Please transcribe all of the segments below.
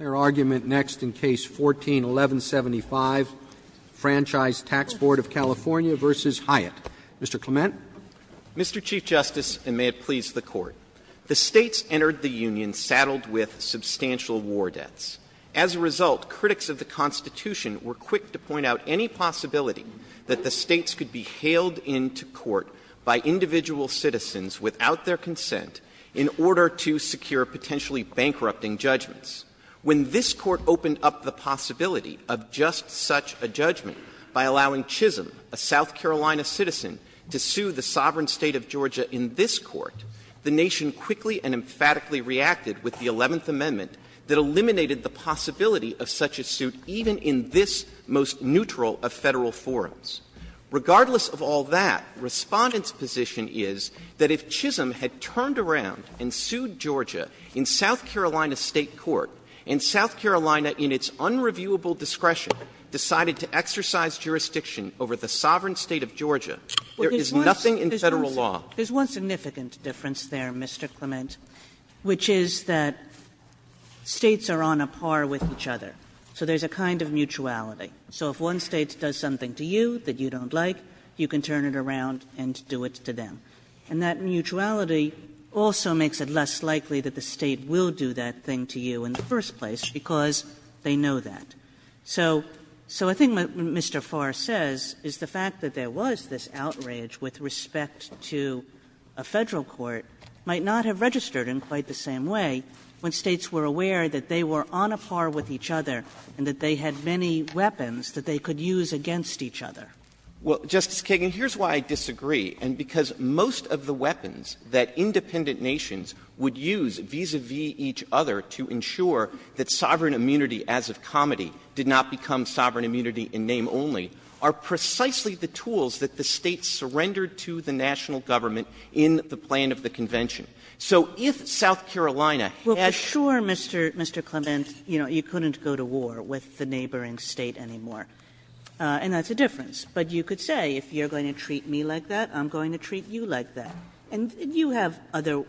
Mr. Clement. Mr. Chief Justice, and may it please the Court, the States entered the Union saddled with substantial war debts. As a result, critics of the Constitution were quick to point out any possibility that the States could be hailed into court by individual citizens without their consent in order to secure potentially bankrupting judgments. When this Court opened up the possibility of just such a judgment by allowing Chisholm, a South Carolina citizen, to sue the sovereign State of Georgia in this Court, the nation quickly and emphatically reacted with the Eleventh Amendment that eliminated the possibility of such a suit even in this most neutral of Federal forums. Regardless of all that, Respondent's position is that if Chisholm had turned around and sued Georgia in South Carolina's State court, and South Carolina, in its unreviewable discretion, decided to exercise jurisdiction over the sovereign State of Georgia, there is nothing in Federal law. Kagan. There's one significant difference there, Mr. Clement, which is that States are on a par with each other, so there's a kind of mutuality. So if one State does something to you that you don't like, you can turn it around and do it to them. And that mutuality also makes it less likely that the State will do that thing to you in the first place, because they know that. So the thing that Mr. Farr says is the fact that there was this outrage with respect to a Federal court might not have registered in quite the same way when States were aware that they were on a par with each other and that they had many weapons that they could use against each other. Clement. Well, Justice Kagan, here's why I disagree, and because most of the weapons that independent nations would use vis-à-vis each other to ensure that sovereign immunity as of comity did not become sovereign immunity in name only are precisely the tools that the States surrendered to the national government in the plan of the So if South Carolina had to do that, it would be a different story. Kagan. Well, for sure, Mr. Clement, you know, you couldn't go to war with the neighboring State anymore. And that's a difference. But you could say, if you're going to treat me like that, I'm going to treat you like that. And you have other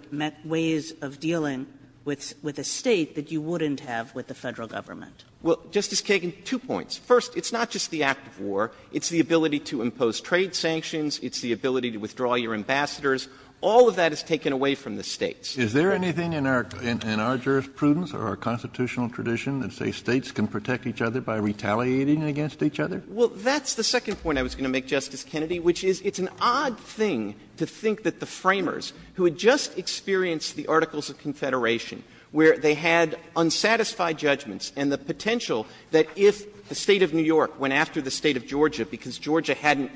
ways of dealing with a State that you wouldn't have with the Federal government. Clement. Well, Justice Kagan, two points. First, it's not just the act of war. It's the ability to impose trade sanctions. It's the ability to withdraw your ambassadors. All of that is taken away from the States. Kennedy. Is there anything in our jurisprudence or our constitutional tradition that states can protect each other by retaliating against each other? Well, that's the second point I was going to make, Justice Kennedy, which is it's an odd thing to think that the Framers, who had just experienced the Articles of Confederation, where they had unsatisfied judgments and the potential that if the State of New York went after the State of Georgia, because Georgia hadn't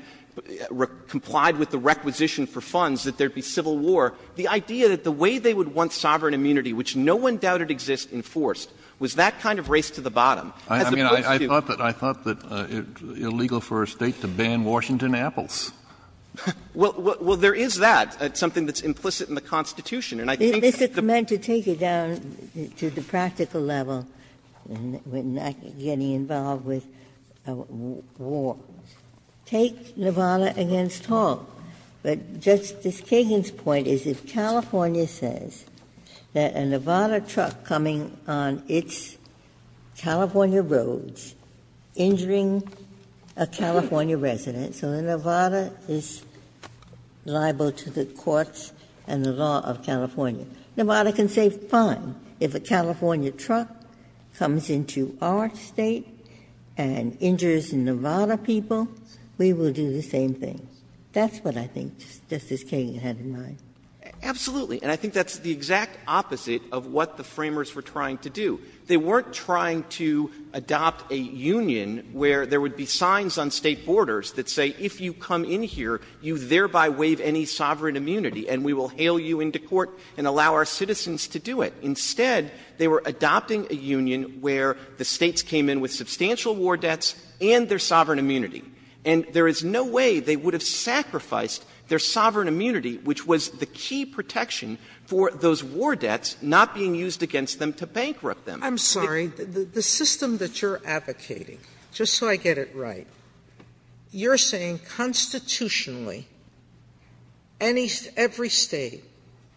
complied with the requisition for funds, that there would be civil war, the idea that the way they would want sovereign immunity, which no one doubted existed in Forrest, was that kind of race to the bottom. I mean, I thought that it's illegal for a State to ban Washington apples. Well, there is that. It's something that's implicit in the Constitution. And I think that the This is meant to take it down to the practical level, getting involved with war. Take Nevada against Hall. But Justice Kagan's point is if California says that a Nevada truck coming on its California roads, injuring a California resident, so Nevada is liable to the courts and the law of California, Nevada can say fine, if a California truck comes into our State and injures Nevada people, we will do the same thing. That's what I think Justice Kagan had in mind. Absolutely. And I think that's the exact opposite of what the Framers were trying to do. They weren't trying to adopt a union where there would be signs on State borders that say if you come in here, you thereby waive any sovereign immunity, and we will hail you into court and allow our citizens to do it. Instead, they were adopting a union where the States came in with substantial war debts and their sovereign immunity. And there is no way they would have sacrificed their sovereign immunity, which was the key protection for those war debts not being used against them to bankrupt them. Sotomayor, the system that you're advocating, just so I get it right, you're saying constitutionally, every State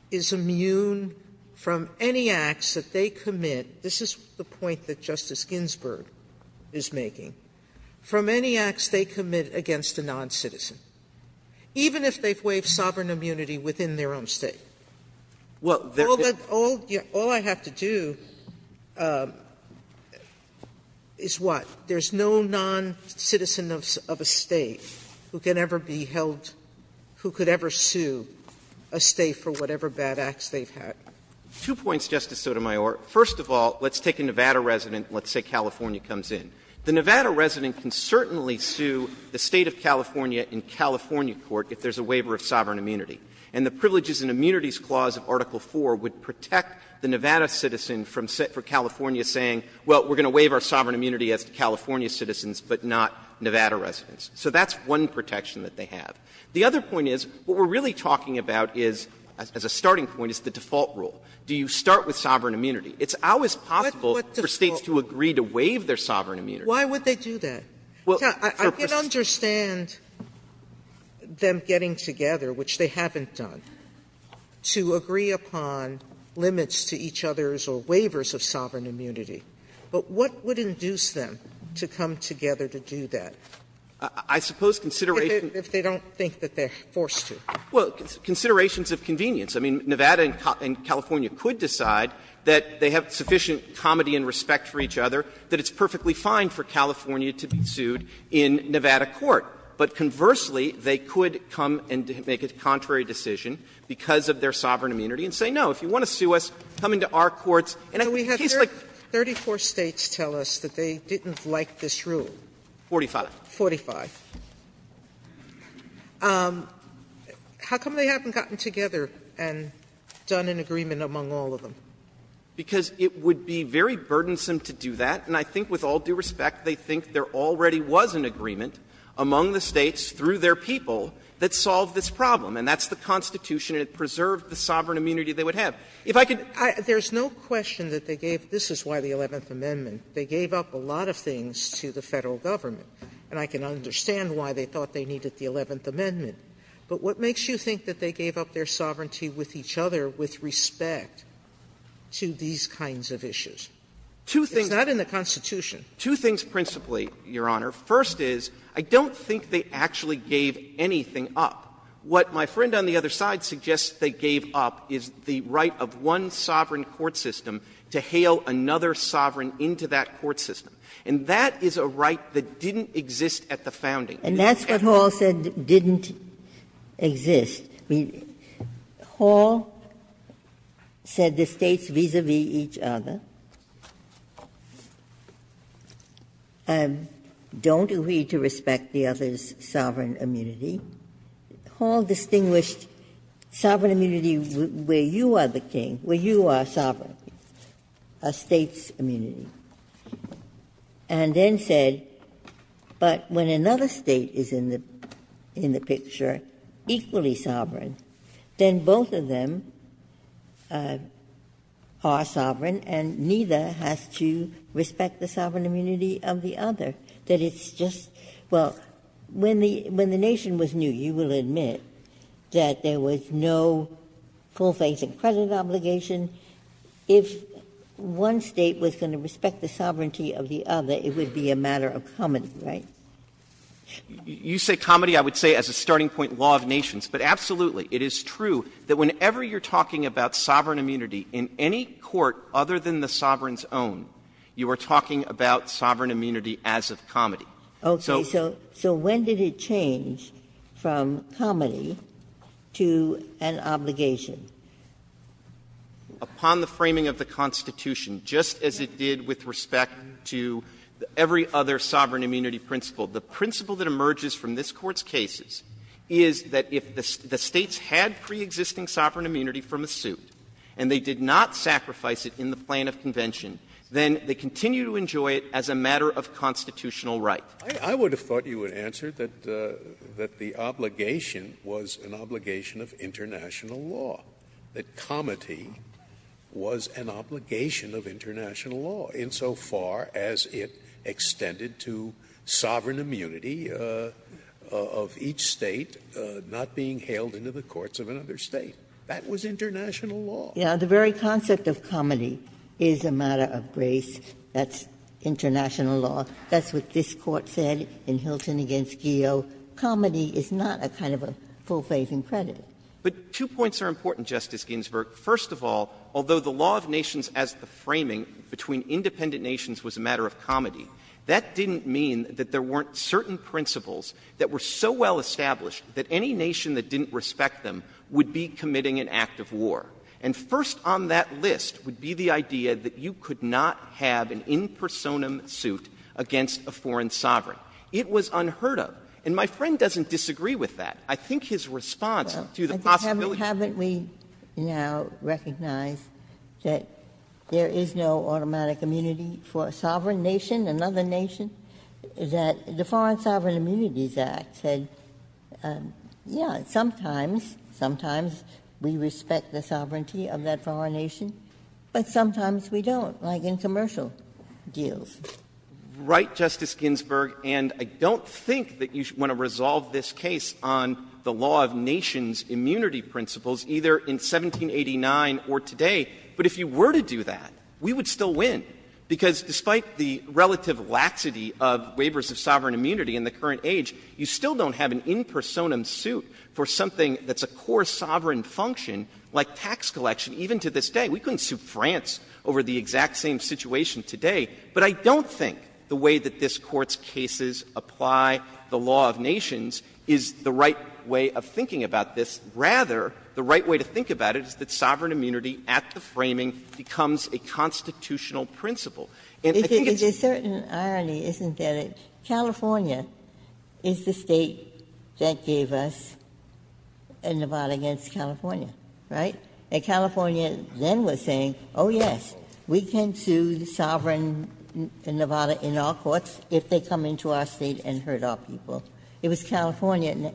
is immune from any acts that they commit, this is the only acts they commit against a non-citizen, even if they've waived sovereign immunity within their own State. All I have to do is, what, there's no non-citizen of a State who can ever be held who could ever sue a State for whatever bad acts they've had. Two points, Justice Sotomayor. First of all, let's take a Nevada resident and let's say California comes in. The Nevada resident can certainly sue the State of California in California court if there's a waiver of sovereign immunity. And the Privileges and Immunities Clause of Article 4 would protect the Nevada citizen from California saying, well, we're going to waive our sovereign immunity as California citizens, but not Nevada residents. So that's one protection that they have. The other point is, what we're really talking about is, as a starting point, is the default rule. Do you start with sovereign immunity? It's always possible for States to agree to waive their sovereign immunity. Sotomayor, why would they do that? I can understand them getting together, which they haven't done, to agree upon limits to each other's or waivers of sovereign immunity, but what would induce them to come together to do that? I suppose consideration If they don't think that they're forced to. Well, considerations of convenience. I mean, Nevada and California could decide that they have sufficient comedy and respect for each other, that it's perfectly fine for California to be sued in Nevada court. But conversely, they could come and make a contrary decision because of their sovereign immunity and say, no, if you want to sue us, come into our courts, and in a case like this. Sotomayor, 34 States tell us that they didn't like this rule. Forty-five. Forty-five. How come they haven't gotten together and done an agreement among all of them? Because it would be very burdensome to do that, and I think with all due respect, they think there already was an agreement among the States through their people that solved this problem, and that's the Constitution, and it preserved the sovereign immunity they would have. If I could There's no question that they gave this is why the Eleventh Amendment. They gave up a lot of things to the Federal Government, and I can understand why they thought they needed the Eleventh Amendment. But what makes you think that they gave up their sovereignty with each other with respect to these kinds of issues? It's not in the Constitution. Two things principally, Your Honor. First is, I don't think they actually gave anything up. What my friend on the other side suggests they gave up is the right of one sovereign court system to hail another sovereign into that court system, and that is a right that didn't exist at the founding. And that's what Hall said didn't exist. I mean, Hall said the States vis-a-vis each other don't agree to respect the other's sovereign immunity. Hall distinguished sovereign immunity where you are the king, where you are sovereign, a State's immunity, and then said, but when another State is in the picture equally sovereign, then both of them are sovereign and neither has to respect the sovereign immunity of the other. That it's just, well, when the Nation was new, you will admit that there was no full-facing credit obligation. If one State was going to respect the sovereignty of the other, it would be a matter of comedy, right? Clements, you say comedy, I would say as a starting point law of nations. But absolutely, it is true that whenever you are talking about sovereign immunity in any court other than the sovereign's own, you are talking about sovereign immunity as of comedy. So when did it change from comedy to an obligation? Upon the framing of the Constitution, just as it did with respect to every other sovereign immunity principle. The principle that emerges from this Court's cases is that if the States had preexisting sovereign immunity from a suit and they did not sacrifice it in the plan of convention, then they continue to enjoy it as a matter of constitutional right. Scalia, I would have thought you would answer that the obligation was an obligation of international law, that comedy was an obligation of international law insofar as it extended to sovereign immunity of each State not being hailed into the courts of another State. That was international law. Ginsburg-Ginzburg The very concept of comedy is a matter of grace. That's international law. That's what this Court said in Hilton v. Geo. Comedy is not a kind of a full faith in credit. Clements, but two points are important, Justice Ginsburg. First of all, although the law of nations as the framing between independent nations was a matter of comedy, that didn't mean that there weren't certain principles that were so well established that any nation that didn't respect them would be committing an act of war. And first on that list would be the idea that you could not have an in personam suit against a foreign sovereign. It was unheard of. And my friend doesn't disagree with that. of comedy. Ginsburg-Ginzburg Well, haven't we now recognized that there is no automatic immunity for a sovereign nation, another nation, that the Foreign Sovereign Immunities Act said, yes, sometimes we respect the sovereignty of that foreign nation, but sometimes we don't, like in commercial deals? Clements, but two points are important, Justice Ginsburg. Right, Justice Ginsburg. And I don't think that you want to resolve this case on the law of nations' immunity principles either in 1789 or today. But if you were to do that, we would still win, because despite the relative laxity of waivers of sovereign immunity in the current age, you still don't have an in personam suit for something that's a core sovereign function, like tax collection. Even to this day, we couldn't sue France over the exact same situation today. But I don't think the way that this Court's cases apply the law of nations is the right way of thinking about this. Rather, the right way to think about it is that sovereign immunity at the framing becomes a constitutional principle. And I think it's a certain irony, isn't it, that California is the state that has given us a Nevada against California, right? And California then was saying, oh, yes, we can sue the sovereign Nevada in our courts if they come into our State and hurt our people. It was California.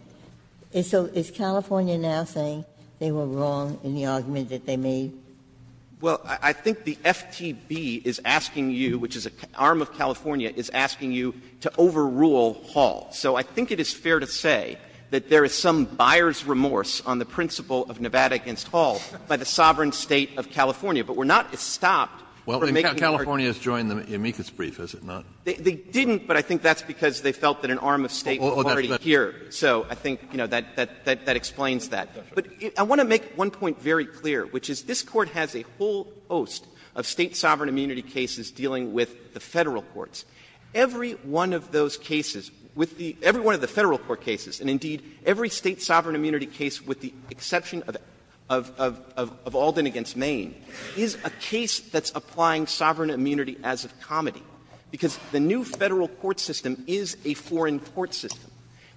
And so is California now saying they were wrong in the argument that they made? Clements, Well, I think the FTB is asking you, which is an arm of California, is asking you to overrule Hall. So I think it is fair to say that there is some buyer's remorse on the principle of Nevada against Hall by the sovereign State of California. But we're not stopped from making our case. Kennedy, California has joined the amicus brief, has it not? Clements, They didn't, but I think that's because they felt that an arm of State was already here. So I think, you know, that explains that. But I want to make one point very clear, which is this Court has a whole host of State sovereign immunity cases dealing with the Federal courts. Every one of those cases, with the — every one of the Federal court cases, and indeed every State sovereign immunity case with the exception of Alden v. Maine, is a case that's applying sovereign immunity as of comity, because the new Federal court system is a foreign court system.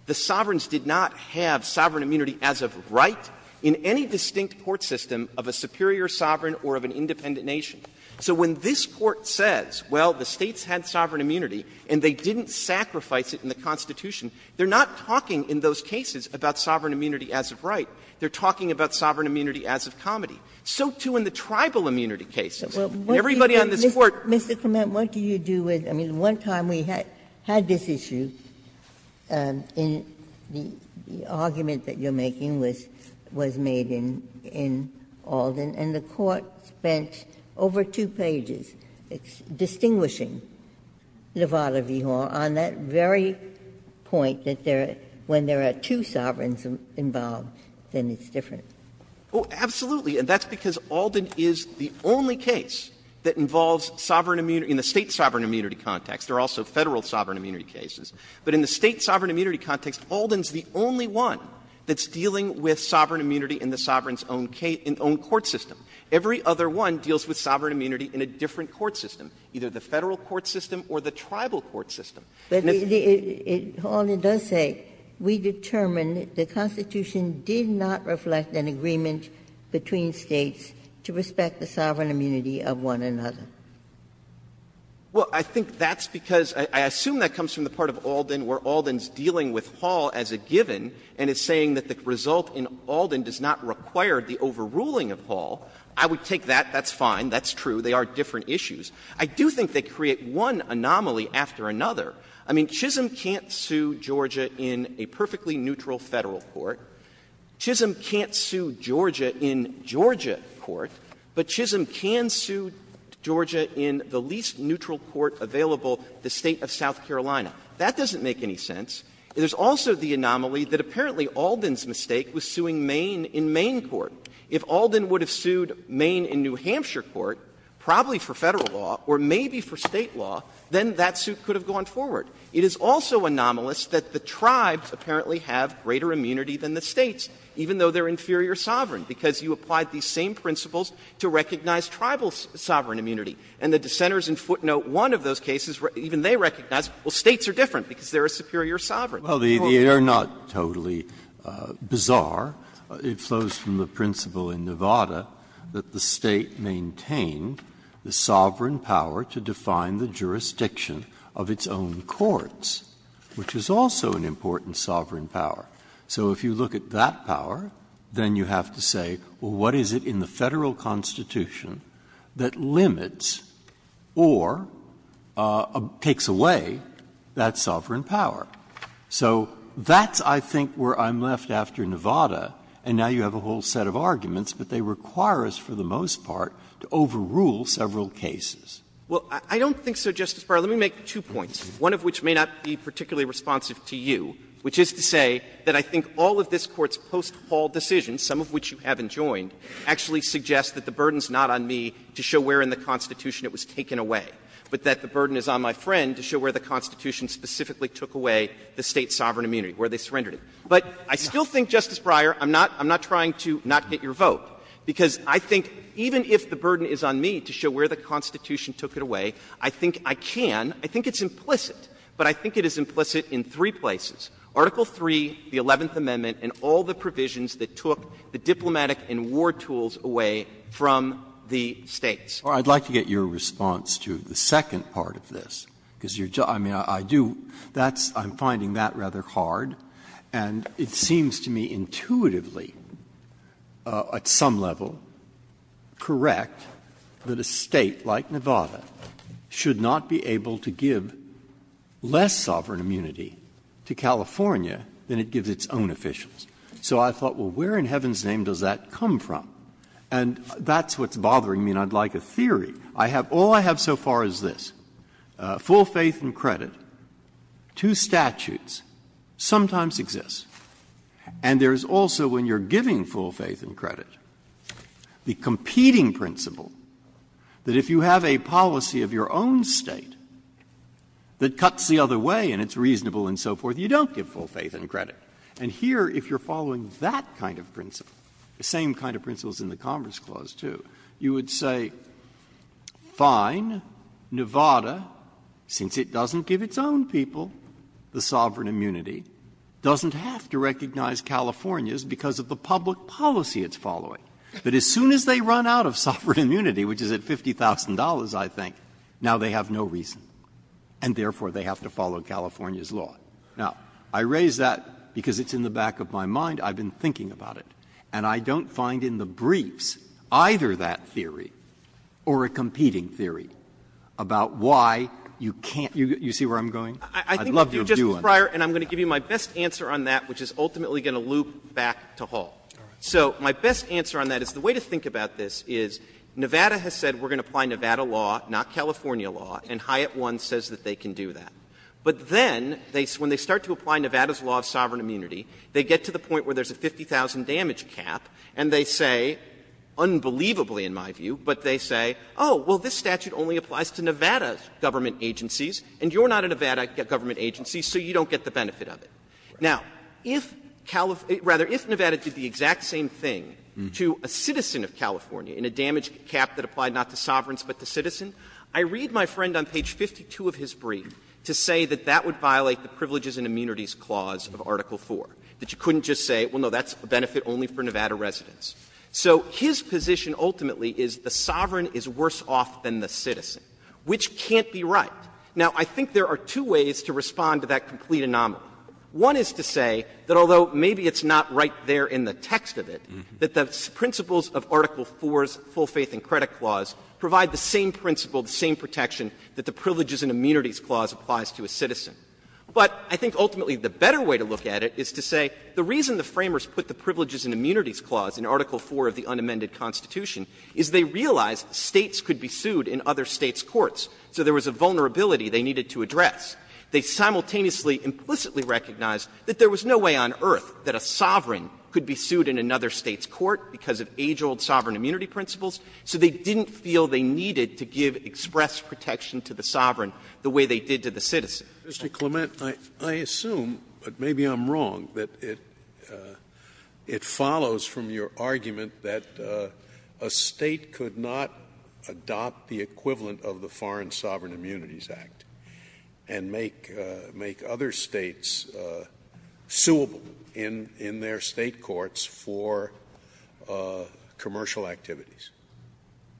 The sovereigns did not have sovereign immunity as of right in any distinct court system of a superior sovereign or of an independent nation. So when this Court says, well, the States had sovereign immunity and they didn't sacrifice it in the Constitution, they're not talking in those cases about sovereign immunity as of right. They're talking about sovereign immunity as of comity. So, too, in the tribal immunity cases. And everybody on this Court — Ginsburg. Mr. Clement, what do you do with — I mean, one time we had this issue, and the argument that you're making was made in Alden, and the Court spent over two pages distinguishing Levada v. Hall on that very point that when there are two sovereigns involved, then it's different. Clement. Oh, absolutely, and that's because Alden is the only case that involves sovereign immunity in the State sovereign immunity context. There are also Federal sovereign immunity cases. But in the State sovereign immunity context, Alden's the only one that's dealing with sovereign immunity in the sovereign's own court system. Every other one deals with sovereign immunity in a different court system, either the Federal court system or the tribal court system. But Alden does say, we determined the Constitution did not reflect an agreement between States to respect the sovereign immunity of one another. Well, I think that's because — I assume that comes from the part of Alden where Alden's dealing with Hall as a given, and is saying that the result in Alden does not require the overruling of Hall. I would take that. That's fine. That's true. They are different issues. I do think they create one anomaly after another. I mean, Chisholm can't sue Georgia in a perfectly neutral Federal court. Chisholm can't sue Georgia in Georgia court. But Chisholm can sue Georgia in the least neutral court available, the State of South Carolina. That doesn't make any sense. There's also the anomaly that apparently Alden's mistake was suing Maine in Maine court. If Alden would have sued Maine in New Hampshire court, probably for Federal law or maybe for State law, then that suit could have gone forward. It is also anomalous that the tribes apparently have greater immunity than the States, even though they are inferior sovereign, because you applied these same principles to recognize tribal sovereign immunity. And the dissenters in footnote 1 of those cases, even they recognize, well, States are different because they are a superior sovereign. Breyer. Well, they are not totally bizarre. It flows from the principle in Nevada that the State maintained the sovereign power to define the jurisdiction of its own courts, which is also an important sovereign power. So if you look at that power, then you have to say, well, what is it in the Federal Constitution that limits or takes away that sovereign power? So that's, I think, where I'm left after Nevada, and now you have a whole set of arguments, but they require us for the most part to overrule several cases. Well, I don't think so, Justice Breyer. Let me make two points, one of which may not be particularly responsive to you, which is to say that I think all of this Court's post-hall decisions, some of which you haven't joined, actually suggest that the burden is not on me to show where in the Constitution it was taken away, but that the burden is on my friend to show where the Constitution specifically took away the State's sovereign immunity, where they surrendered it. But I still think, Justice Breyer, I'm not trying to not get your vote, because I think even if the burden is on me to show where the Constitution took it away, I think I can. I think it's implicit, but I think it is implicit in three places, Article 3, the Eleventh Amendment, and all the provisions that took the diplomatic and war tools away from the States. Breyer. I'd like to get your response to the second part of this, because you're just, I mean, I do, that's, I'm finding that rather hard, and it seems to me intuitively at some level correct that a State like Nevada should not be able to give the State to give less sovereign immunity to California than it gives its own officials. So I thought, well, where in heaven's name does that come from? And that's what's bothering me, and I'd like a theory. I have, all I have so far is this. Full faith and credit, two statutes, sometimes exist. And there is also, when you're giving full faith and credit, the competing principle that if you have a policy of your own State that cuts the other way and it's reasonable and so forth, you don't give full faith and credit. And here, if you're following that kind of principle, the same kind of principles in the Commerce Clause, too, you would say, fine, Nevada, since it doesn't give its own people the sovereign immunity, doesn't have to recognize California's because of the public policy it's following, that as soon as they run out of sovereign immunity, which is at $50,000, I think, now they have no reason, and therefore they have to follow California's law. Now, I raise that because it's in the back of my mind. I've been thinking about it. And I don't find in the briefs either that theory or a competing theory about why you can't do it. You see where I'm going? I'd love to do one. I think you do, Justice Breyer, and I'm going to give you my best answer on that, which is ultimately going to loop back to Hall. So my best answer on that is the way to think about this is Nevada has said we're going to apply Nevada law, not California law, and Hyatt One says that they can do that. But then, when they start to apply Nevada's law of sovereign immunity, they get to the point where there's a 50,000 damage cap, and they say, unbelievably in my view, but they say, oh, well, this statute only applies to Nevada's government agencies, and you're not a Nevada government agency, so you don't get the benefit of it. Now, if Nevada did the exact same thing to a citizen of California in a damage cap that applied not to sovereigns but to citizens, I read my friend on page 52 of his brief to say that that would violate the privileges and immunities clause of Article 4, that you couldn't just say, well, no, that's a benefit only for Nevada residents. So his position ultimately is the sovereign is worse off than the citizen, which can't be right. Now, I think there are two ways to respond to that complete anomaly. One is to say that, although maybe it's not right there in the text of it, that the principles of Article 4's full faith and credit clause provide the same principle, the same protection, that the privileges and immunities clause applies to a citizen. But I think ultimately the better way to look at it is to say the reason the Framers put the privileges and immunities clause in Article 4 of the unamended Constitution is they realized States could be sued in other States' courts. So there was a vulnerability they needed to address. They simultaneously implicitly recognized that there was no way on earth that a sovereign could be sued in another State's court because of age-old sovereign immunity principles, so they didn't feel they needed to give express protection to the sovereign the way they did to the citizen. Scalia. Mr. Clement, I assume, but maybe I'm wrong, that it follows from your argument that a State could not adopt the equivalent of the Foreign Sovereign Immunities Act and make other States suable in their State courts for commercial activities.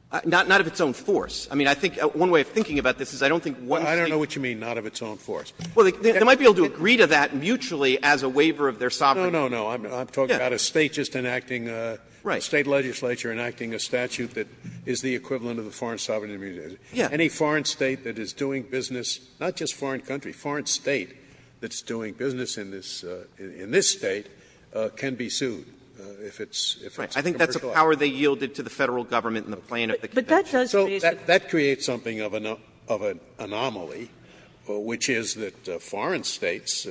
Clement. Not of its own force. I mean, I think one way of thinking about this is I don't think one State. I don't know what you mean, not of its own force. Well, they might be able to agree to that mutually as a waiver of their sovereignty. I'm talking about a State just enacting a sovereign immunity. State legislature enacting a statute that is the equivalent of the Foreign Sovereign Immunities Act. Any foreign State that is doing business, not just foreign country, foreign State that's doing business in this State can be sued if it's commercialized. Right. I think that's the power they yielded to the Federal government in the plan of the Convention. But that does raise the question. So that creates something of an anomaly, which is that foreign States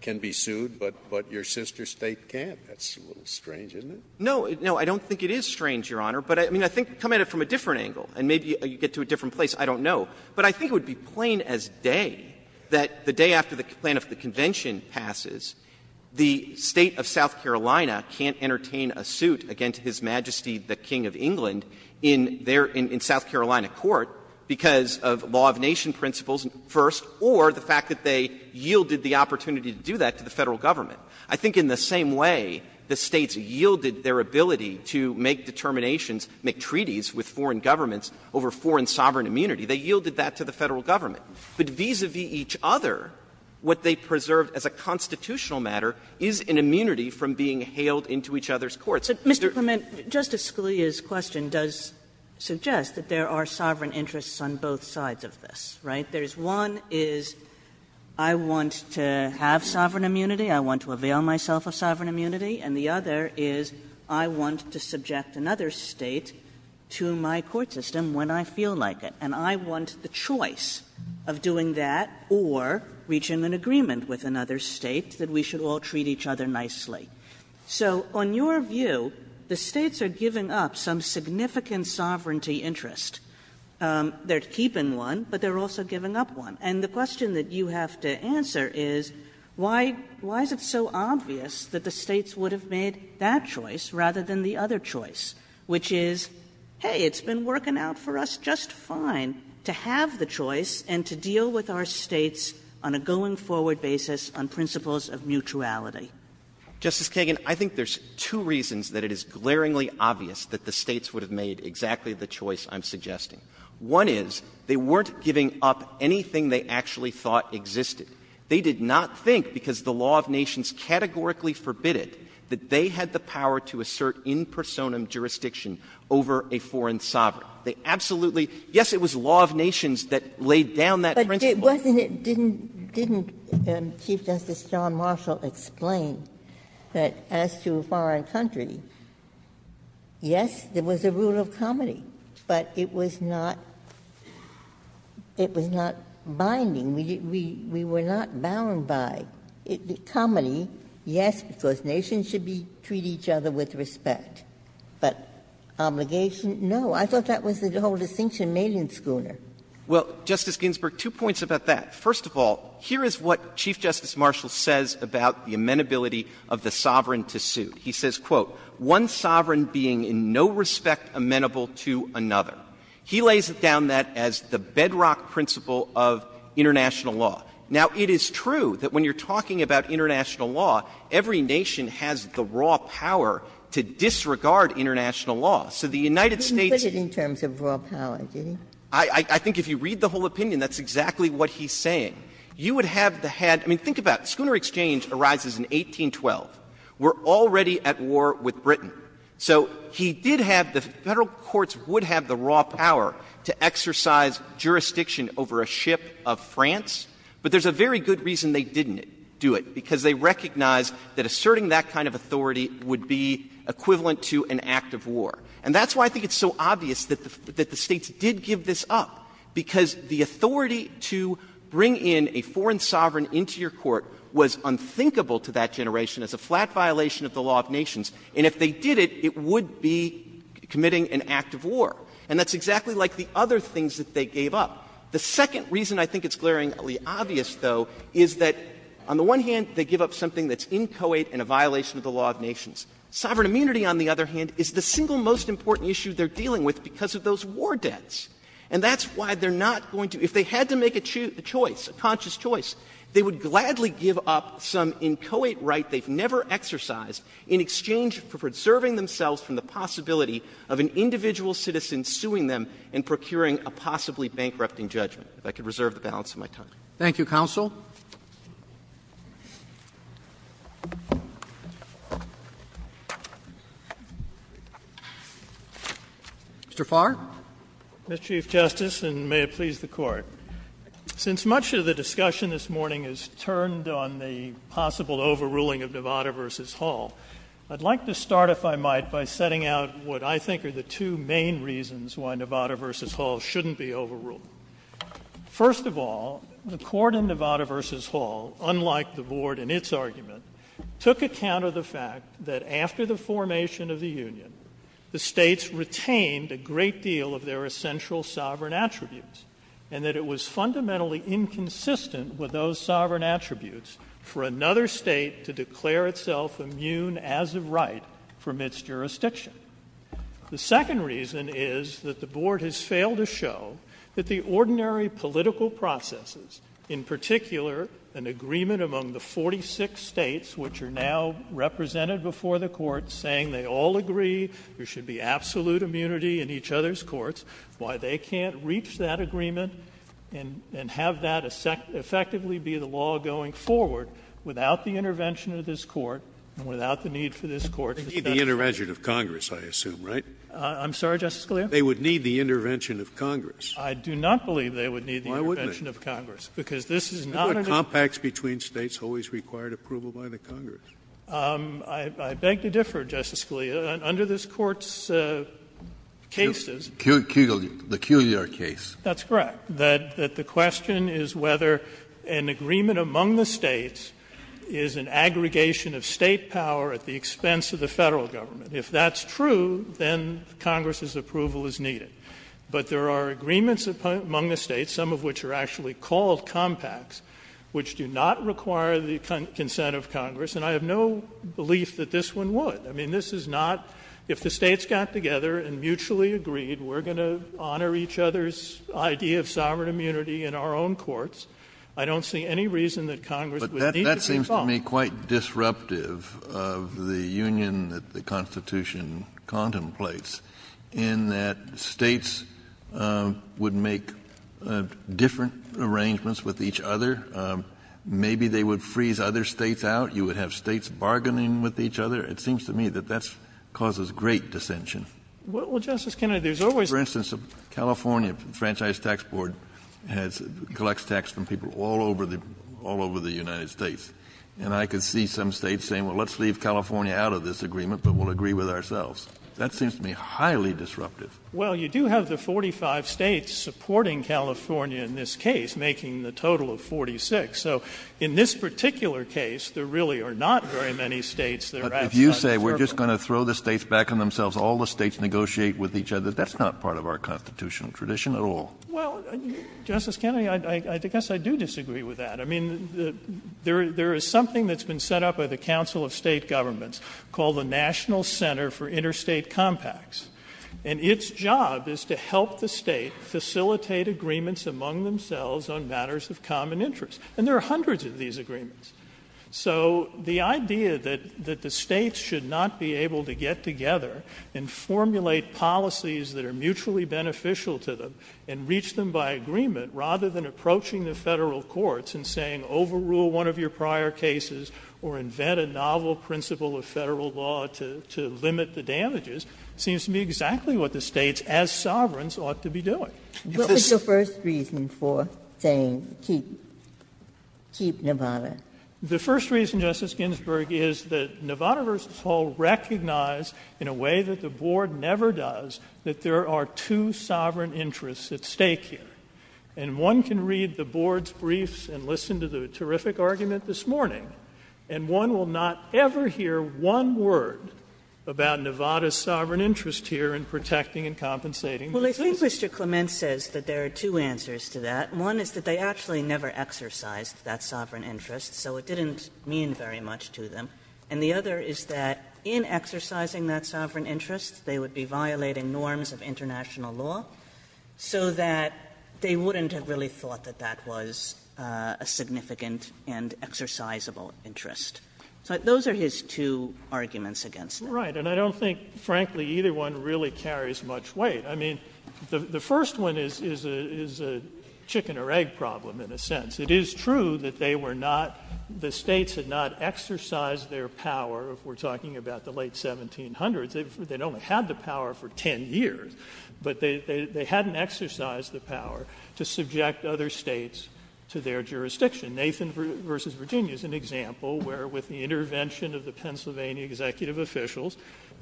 can be sued, but your sister State can't. That's a little strange, isn't it? No. No, I don't think it is strange, Your Honor. But I mean, I think, come at it from a different angle, and maybe you get to a different place. I don't know. But I think it would be plain as day that the day after the plan of the Convention passes, the State of South Carolina can't entertain a suit against His Majesty the King of England in their — in South Carolina court because of law of nation principles first or the fact that they yielded the opportunity to do that to the Federal government. I think in the same way the States yielded their ability to make determinations, make treaties with foreign governments over foreign sovereign immunity. They yielded that to the Federal government. But vis-a-vis each other, what they preserved as a constitutional matter is an immunity from being hailed into each other's courts. Mr. Clement, Justice Scalia's question does suggest that there are sovereign interests on both sides of this, right? There is one is I want to have sovereign immunity, I want to avail myself of sovereign immunity, and the other is I want to subject another State to my court system when I feel like it, and I want the choice of doing that or reaching an agreement with another State that we should all treat each other nicely. So on your view, the States are giving up some significant sovereignty interest. They are keeping one, but they are also giving up one. And the question that you have to answer is, why is it so obvious that the States would have made that choice rather than the other choice, which is, hey, it's been working out for us just fine to have the choice and to deal with our States on a going-forward basis on principles of mutuality? Clement, Justice Kagan, I think there's two reasons that it is glaringly obvious that the States would have made exactly the choice I'm suggesting. One is, they weren't giving up anything they actually thought existed. They did not think, because the law of nations categorically forbid it, that they had the power to assert in personam jurisdiction over a foreign sovereign. They absolutely – yes, it was law of nations that laid down that principle. Ginsburg, it wasn't – didn't Chief Justice John Marshall explain that as to a foreign country, yes, there was a rule of comity, but it was not – it was not binding. We were not bound by comity, yes, because nations should be – treat each other with respect. But obligation, no. I thought that was the whole distinction made in Schooner. Well, Justice Ginsburg, two points about that. First of all, here is what Chief Justice Marshall says about the amenability of the sovereign to suit. He says, quote, ''One sovereign being in no respect amenable to another.'' He lays down that as the bedrock principle of international law. Now, it is true that when you're talking about international law, every nation has the raw power to disregard international law. So the United States'— You didn't put it in terms of raw power, did you? I think if you read the whole opinion, that's exactly what he's saying. You would have the had – I mean, think about it. Schooner Exchange arises in 1812. We're already at war with Britain. So he did have – the Federal courts would have the raw power to exercise jurisdiction over a ship of France, but there's a very good reason they didn't do it, because they recognized that asserting that kind of authority would be equivalent to an act of war. And that's why I think it's so obvious that the States did give this up, because the authority to bring in a foreign sovereign into your court was unthinkable to that generation as a flat violation of the law of nations. And if they did it, it would be committing an act of war. And that's exactly like the other things that they gave up. The second reason I think it's glaringly obvious, though, is that on the one hand, they give up something that's inchoate and a violation of the law of nations. Sovereign immunity, on the other hand, is the single most important issue they're dealing with because of those war debts. And that's why they're not going to – if they had to make a choice, a conscious choice, they would gladly give up some inchoate right they've never exercised in exchange for preserving themselves from the possibility of an individual citizen suing them and procuring a possibly bankrupting judgment, if I could reserve the balance of my time. Thank you, counsel. Mr. Farr. Mr. Chief Justice, and may it please the Court. Since much of the discussion this morning is turned on the possible overruling of Nevada v. Hall, I'd like to start, if I might, by setting out what I think are the two main reasons why Nevada v. Hall shouldn't be overruled. First of all, the Court in Nevada v. Hall, unlike the Board in its argument, took account of the fact that after the formation of the Union, the states retained a great deal of their essential sovereign attributes, and that it was fundamentally inconsistent with those sovereign attributes for another state to declare itself immune as of right from its jurisdiction. The second reason is that the Board has failed to show that the ordinary political processes, in particular, an agreement among the 46 states which are now represented before the Court saying they all agree there should be absolute immunity in each other's courts, why they can't reach that agreement and have that effectively be the law going forward without the intervention of this Court and without the need for this Court to set up. Scalia, they would need the intervention of Congress, I assume, right? Hall, I'm sorry, Justice Scalia? Scalia, they would need the intervention of Congress. Hall, I do not believe they would need the intervention of Congress, because this is not a different case. Scalia, it's not compacts between States always required approval by the Congress. Hall, I beg to differ, Justice Scalia. Under this Court's cases, the Culear case, that's correct, that the question is whether an agreement among the States is an aggregation of State power at the expense of the Federal Government. If that's true, then Congress's approval is needed. But there are agreements among the States, some of which are actually called compacts, which do not require the consent of Congress, and I have no belief that this one would. I mean, this is not — if the States got together and mutually agreed, we're going to honor each other's idea of sovereign immunity in our own courts, I don't see any reason that Congress would need to resolve it. Kennedy, it would seem to me quite disruptive of the union that the Constitution contemplates, in that States would make different arrangements with each other. Maybe they would freeze other States out, you would have States bargaining with each other. It seems to me that that causes great dissension. Well, Justice Kennedy, there's always been some — For instance, California Franchise Tax Board has — collects tax from people all over the — all over the United States. And I could see some States saying, well, let's leave California out of this agreement, but we'll agree with ourselves. That seems to me highly disruptive. Well, you do have the 45 States supporting California in this case, making the total of 46. So in this particular case, there really are not very many States that are outside the circle. But if you say we're just going to throw the States back on themselves, all the States negotiate with each other, that's not part of our constitutional tradition at all. Well, Justice Kennedy, I guess I do disagree with that. I mean, there is something that's been set up by the Council of State Governments called the National Center for Interstate Compacts. And its job is to help the State facilitate agreements among themselves on matters of common interest. And there are hundreds of these agreements. So the idea that the States should not be able to get together and formulate policies that are mutually beneficial to them and reach them by agreement, rather than approaching the Federal courts and saying overrule one of your prior cases or invent a novel principle of Federal law to limit the damages, seems to me exactly what the States as sovereigns ought to be doing. Ginsburg. What was the first reason for saying keep Nevada? The first reason, Justice Ginsburg, is that Nevada v. Hall recognized in a way that the Board never does that there are two sovereign interests at stake here. And one can read the Board's briefs and listen to the terrific argument this morning, and one will not ever hear one word about Nevada's sovereign interest here in protecting and compensating. Well, I think Mr. Clement says that there are two answers to that. One is that they actually never exercised that sovereign interest. So it didn't mean very much to them. And the other is that in exercising that sovereign interest, they would be violating the norms of international law so that they wouldn't have really thought that that was a significant and exercisable interest. So those are his two arguments against it. Right. And I don't think, frankly, either one really carries much weight. I mean, the first one is a chicken or egg problem in a sense. It is true that they were not the States had not exercised their power, if we're talking about the late 1700s. They'd only had the power for 10 years, but they hadn't exercised the power to subject other States to their jurisdiction. Nathan versus Virginia is an example where with the intervention of the Pennsylvania executive officials,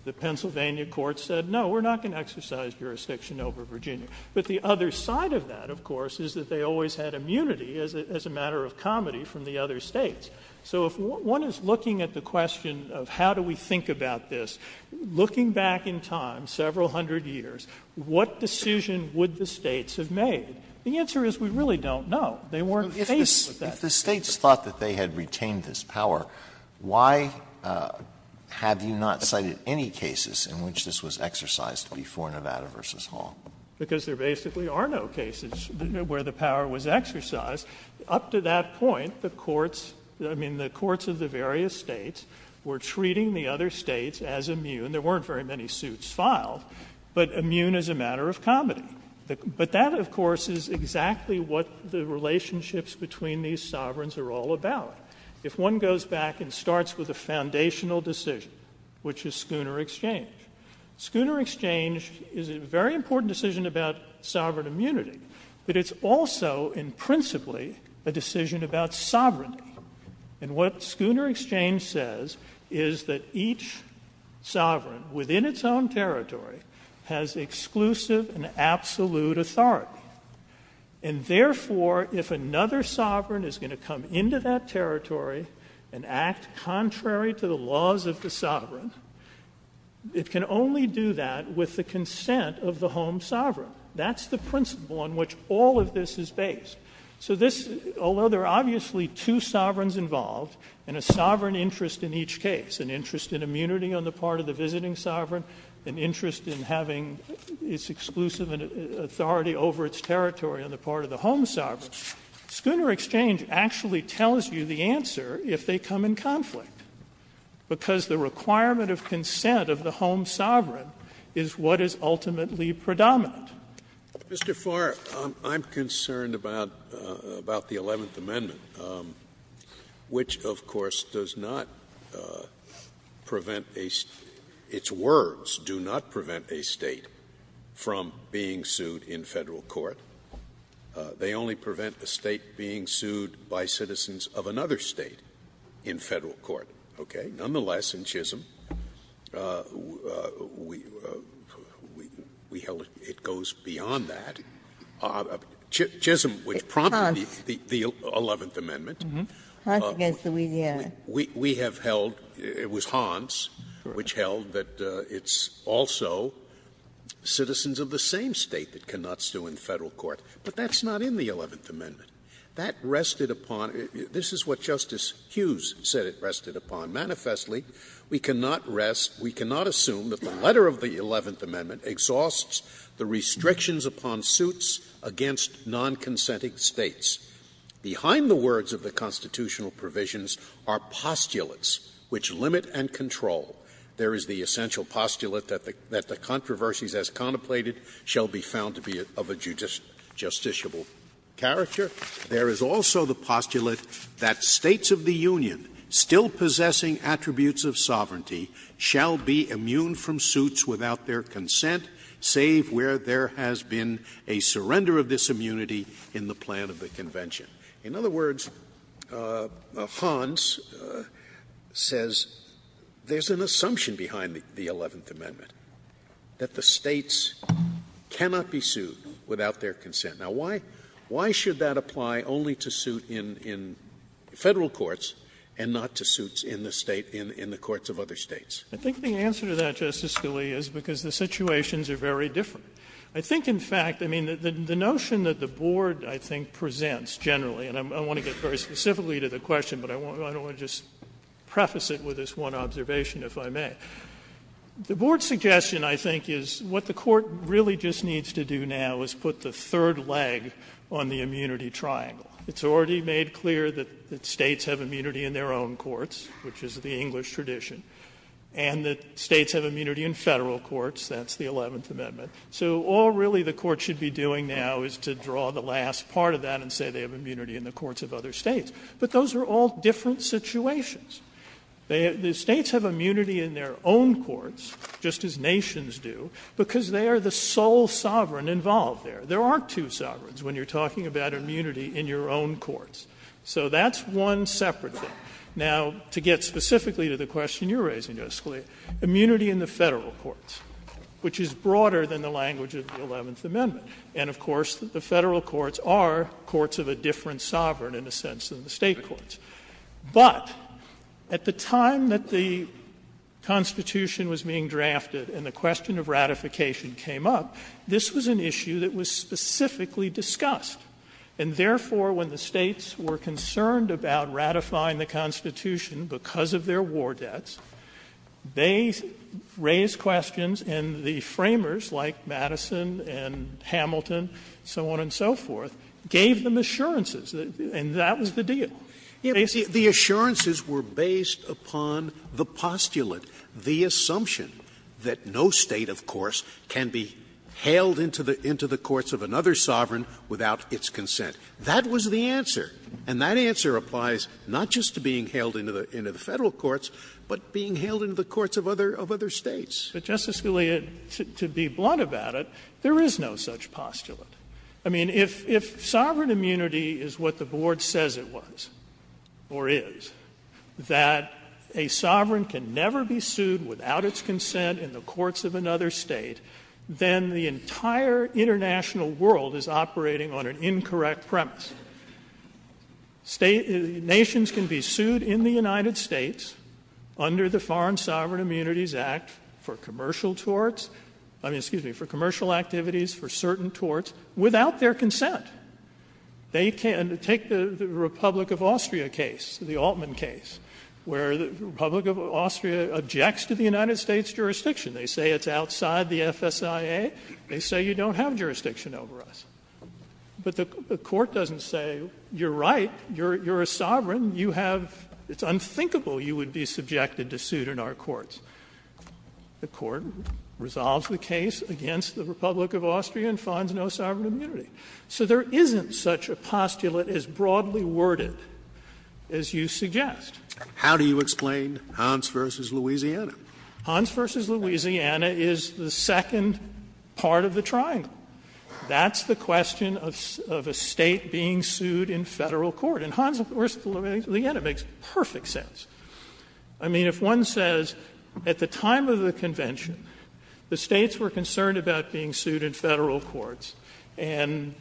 the Pennsylvania court said, no, we're not going to exercise jurisdiction over Virginia. But the other side of that, of course, is that they always had immunity as a matter of comedy from the other States. So if one is looking at the question of how do we think about this, looking back in time several hundred years, what decision would the States have made? The answer is we really don't know. They weren't faced with that. If the States thought that they had retained this power, why have you not cited any cases in which this was exercised before Nevada v. Hall? Because there basically are no cases where the power was exercised. Up to that point, the courts, I mean, the courts of the various States were treating the other States as immune. There weren't very many suits filed, but immune as a matter of comedy. But that, of course, is exactly what the relationships between these sovereigns are all about. If one goes back and starts with a foundational decision, which is Schooner exchange, Schooner exchange is a very important decision about sovereign immunity, but it's also in principally a decision about sovereignty. And what Schooner exchange says is that each sovereign within its own territory has exclusive and absolute authority. And therefore, if another sovereign is going to come into that territory and act contrary to the laws of the sovereign, it can only do that with the consent of the home sovereign. That's the principle on which all of this is based. So this, although there are obviously two sovereigns involved, and a sovereign interest in each case, an interest in immunity on the part of the visiting sovereign, an interest in having its exclusive authority over its territory on the part of the home sovereign, Schooner exchange actually tells you the answer if they come in conflict. Because the requirement of consent of the home sovereign is what is ultimately predominant. Scalia, Mr. Farr, I'm concerned about the Eleventh Amendment, which, of course, does not prevent a state — its words do not prevent a state from being sued in Federal court. They only prevent a state being sued by citizens of another state in Federal court. Okay? And we held it goes beyond that. Chisholm, which prompted the Eleventh Amendment. It was Hans, which held that it's also citizens of the same state that cannot sue in Federal court, but that's not in the Eleventh Amendment. That rested upon — this is what Justice Hughes said it rested upon. Manifestly, we cannot rest — we cannot assume that the letter of the Eleventh Amendment exhausts the restrictions upon suits against non-consenting States. Behind the words of the constitutional provisions are postulates which limit and control. There is the essential postulate that the controversies as contemplated shall be found to be of a justiciable character. There is also the postulate that States of the Union still possessing attributes of sovereignty shall be immune from suits without their consent, save where there has been a surrender of this immunity in the plan of the Convention. In other words, Hans says there's an assumption behind the Eleventh Amendment, that the States cannot be sued without their consent. Now, why should that apply only to suit in Federal courts and not to suits in the State — in the courts of other States? I think the answer to that, Justice Scalia, is because the situations are very different. I think, in fact, I mean, the notion that the board, I think, presents generally — and I want to get very specifically to the question, but I don't want to just preface it with this one observation, if I may. The board's suggestion, I think, is what the court really just needs to do now is put the third leg on the immunity triangle. It's already made clear that States have immunity in their own courts, which is the English tradition, and that States have immunity in Federal courts, that's the Eleventh Amendment. So all, really, the court should be doing now is to draw the last part of that and say they have immunity in the courts of other States. But those are all different situations. The States have immunity in their own courts, just as nations do, because they are the sole sovereign involved there. There aren't two sovereigns when you're talking about immunity in your own courts. So that's one separate thing. Now, to get specifically to the question you're raising, Justice Scalia, immunity in the Federal courts, which is broader than the language of the Eleventh Amendment. And, of course, the Federal courts are courts of a different sovereign, in a sense, than the State courts. But at the time that the Constitution was being drafted and the question of ratification came up, this was an issue that was specifically discussed. And, therefore, when the States were concerned about ratifying the Constitution because of their war debts, they raised questions, and the framers, like Madison and Hamilton, so on and so forth, gave them assurances, and that was the deal. They said the assurances were based upon the postulate, the assumption that no State, of course, can be hailed into the courts of another sovereign without its consent. That was the answer, and that answer applies not just to being hailed into the Federal courts, but being hailed into the courts of other States. But, Justice Scalia, to be blunt about it, there is no such postulate. I mean, if sovereign immunity is what the Board says it was, or is, that a sovereign can never be sued without its consent in the courts of another State, then the entire international world is operating on an incorrect premise. Nations can be sued in the United States under the Foreign Sovereign Immunities Act for commercial torts, I mean, excuse me, for commercial activities, for certain torts, without their consent. They can't take the Republic of Austria case, the Altman case, where the Republic of Austria objects to the United States jurisdiction. They say it's outside the FSIA, they say you don't have jurisdiction over us. But the Court doesn't say, you're right, you're a sovereign, you have — it's unthinkable you would be subjected to suit in our courts. The Court resolves the case against the Republic of Austria and finds no sovereign immunity. So there isn't such a postulate as broadly worded as you suggest. Scalia How do you explain Hans v. Louisiana? Fisherman Hans v. Louisiana is the second part of the triangle. That's the question of a State being sued in Federal court. And Hans v. Louisiana makes perfect sense. I mean, if one says at the time of the convention, the States were concerned about being sued in Federal courts, and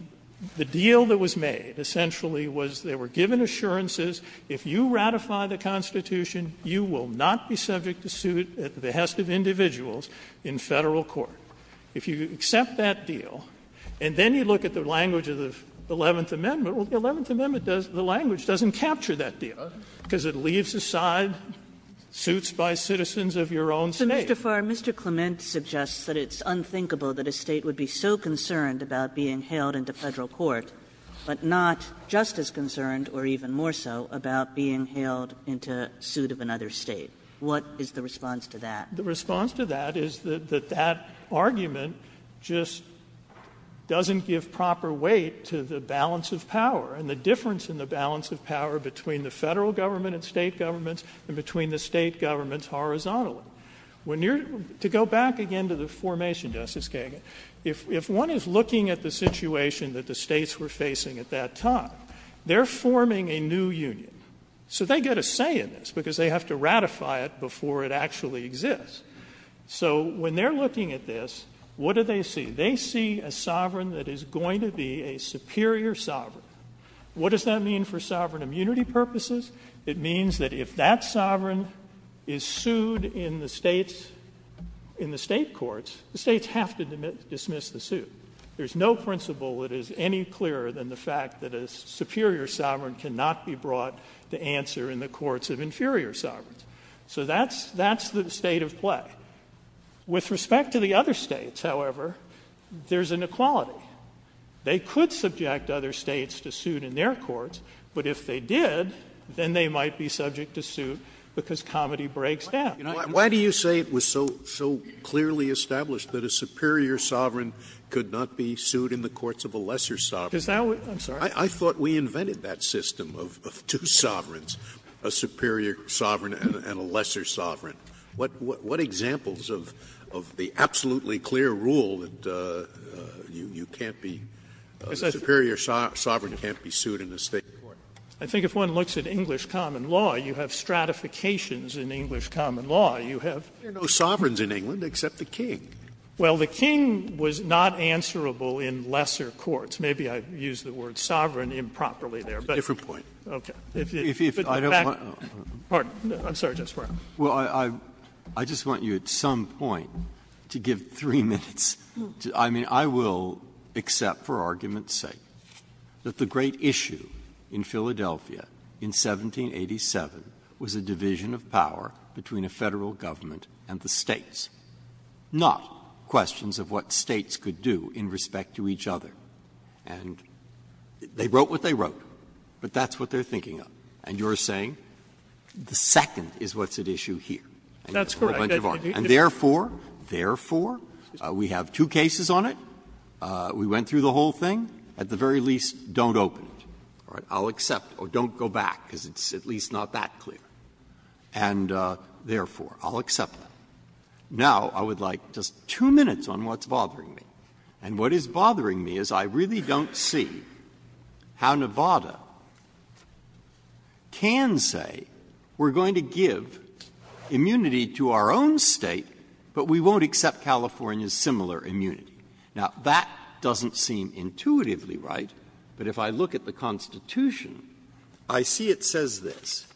the deal that was made, essentially, was they were given assurances, if you ratify the Constitution, you will not be subject to suit at the behest of individuals in Federal court. If you accept that deal, and then you look at the language of the Eleventh Amendment, well, the Eleventh Amendment does — the language doesn't capture that deal, because it leaves aside suits by citizens of your own State. Mr. Farr, Mr. Clement suggests that it's unthinkable that a State would be so concerned about being hailed into Federal court, but not just as concerned, or even more so, about being hailed into suit of another State. What is the response to that? Fisherman The response to that is that that argument just doesn't give proper weight to the balance of power and the difference in the balance of power between the Federal government and State governments, and between the State governments horizontally. When you're — to go back again to the formation, Justice Kagan, if — if one is looking at the situation that the States were facing at that time, they're forming a new union. So they get a say in this, because they have to ratify it before it actually exists. So when they're looking at this, what do they see? They see a sovereign that is going to be a superior sovereign. What does that mean for sovereign immunity purposes? It means that if that sovereign is sued in the States — in the State courts, the States have to dismiss the suit. There's no principle that is any clearer than the fact that a superior sovereign cannot be brought to answer in the courts of inferior sovereigns. So that's — that's the state of play. With respect to the other States, however, there's inequality. They could subject other States to suit in their courts, but if they did, then they might be subject to suit because comedy breaks down. Scalia. Why do you say it was so — so clearly established that a superior sovereign could not be sued in the courts of a lesser sovereign? Because now we — I'm sorry? I thought we invented that system of two sovereigns, a superior sovereign and a lesser sovereign. What — what examples of the absolutely clear rule that you can't be — a superior sovereign can't be sued in a State court? I think if one looks at English common law, you have stratifications in English common law. You have no sovereigns in England except the king. Well, the king was not answerable in lesser courts. Maybe I used the word sovereign improperly there. It's a different point. Okay. If the fact — If I don't want to — Pardon. I'm sorry, Justice Breyer. Well, I — I just want you at some point to give three minutes to — I mean, I will accept for argument's sake that the great issue in Philadelphia in 1787 was a division of power between a Federal government and the States, not questions of what States could do in respect to each other. And they wrote what they wrote, but that's what they're thinking of. And you're saying the second is what's at issue here. That's correct. And therefore, therefore, we have two cases on it. We went through the whole thing. At the very least, don't open it. All right? I'll accept. Or don't go back, because it's at least not that clear. And therefore, I'll accept that. Now I would like just two minutes on what's bothering me. And what is bothering me is I really don't see how Nevada can say we're going to give immunity to our own State, but we won't accept California's similar immunity. Now, that doesn't seem intuitively right, but if I look at the Constitution, I see it says this.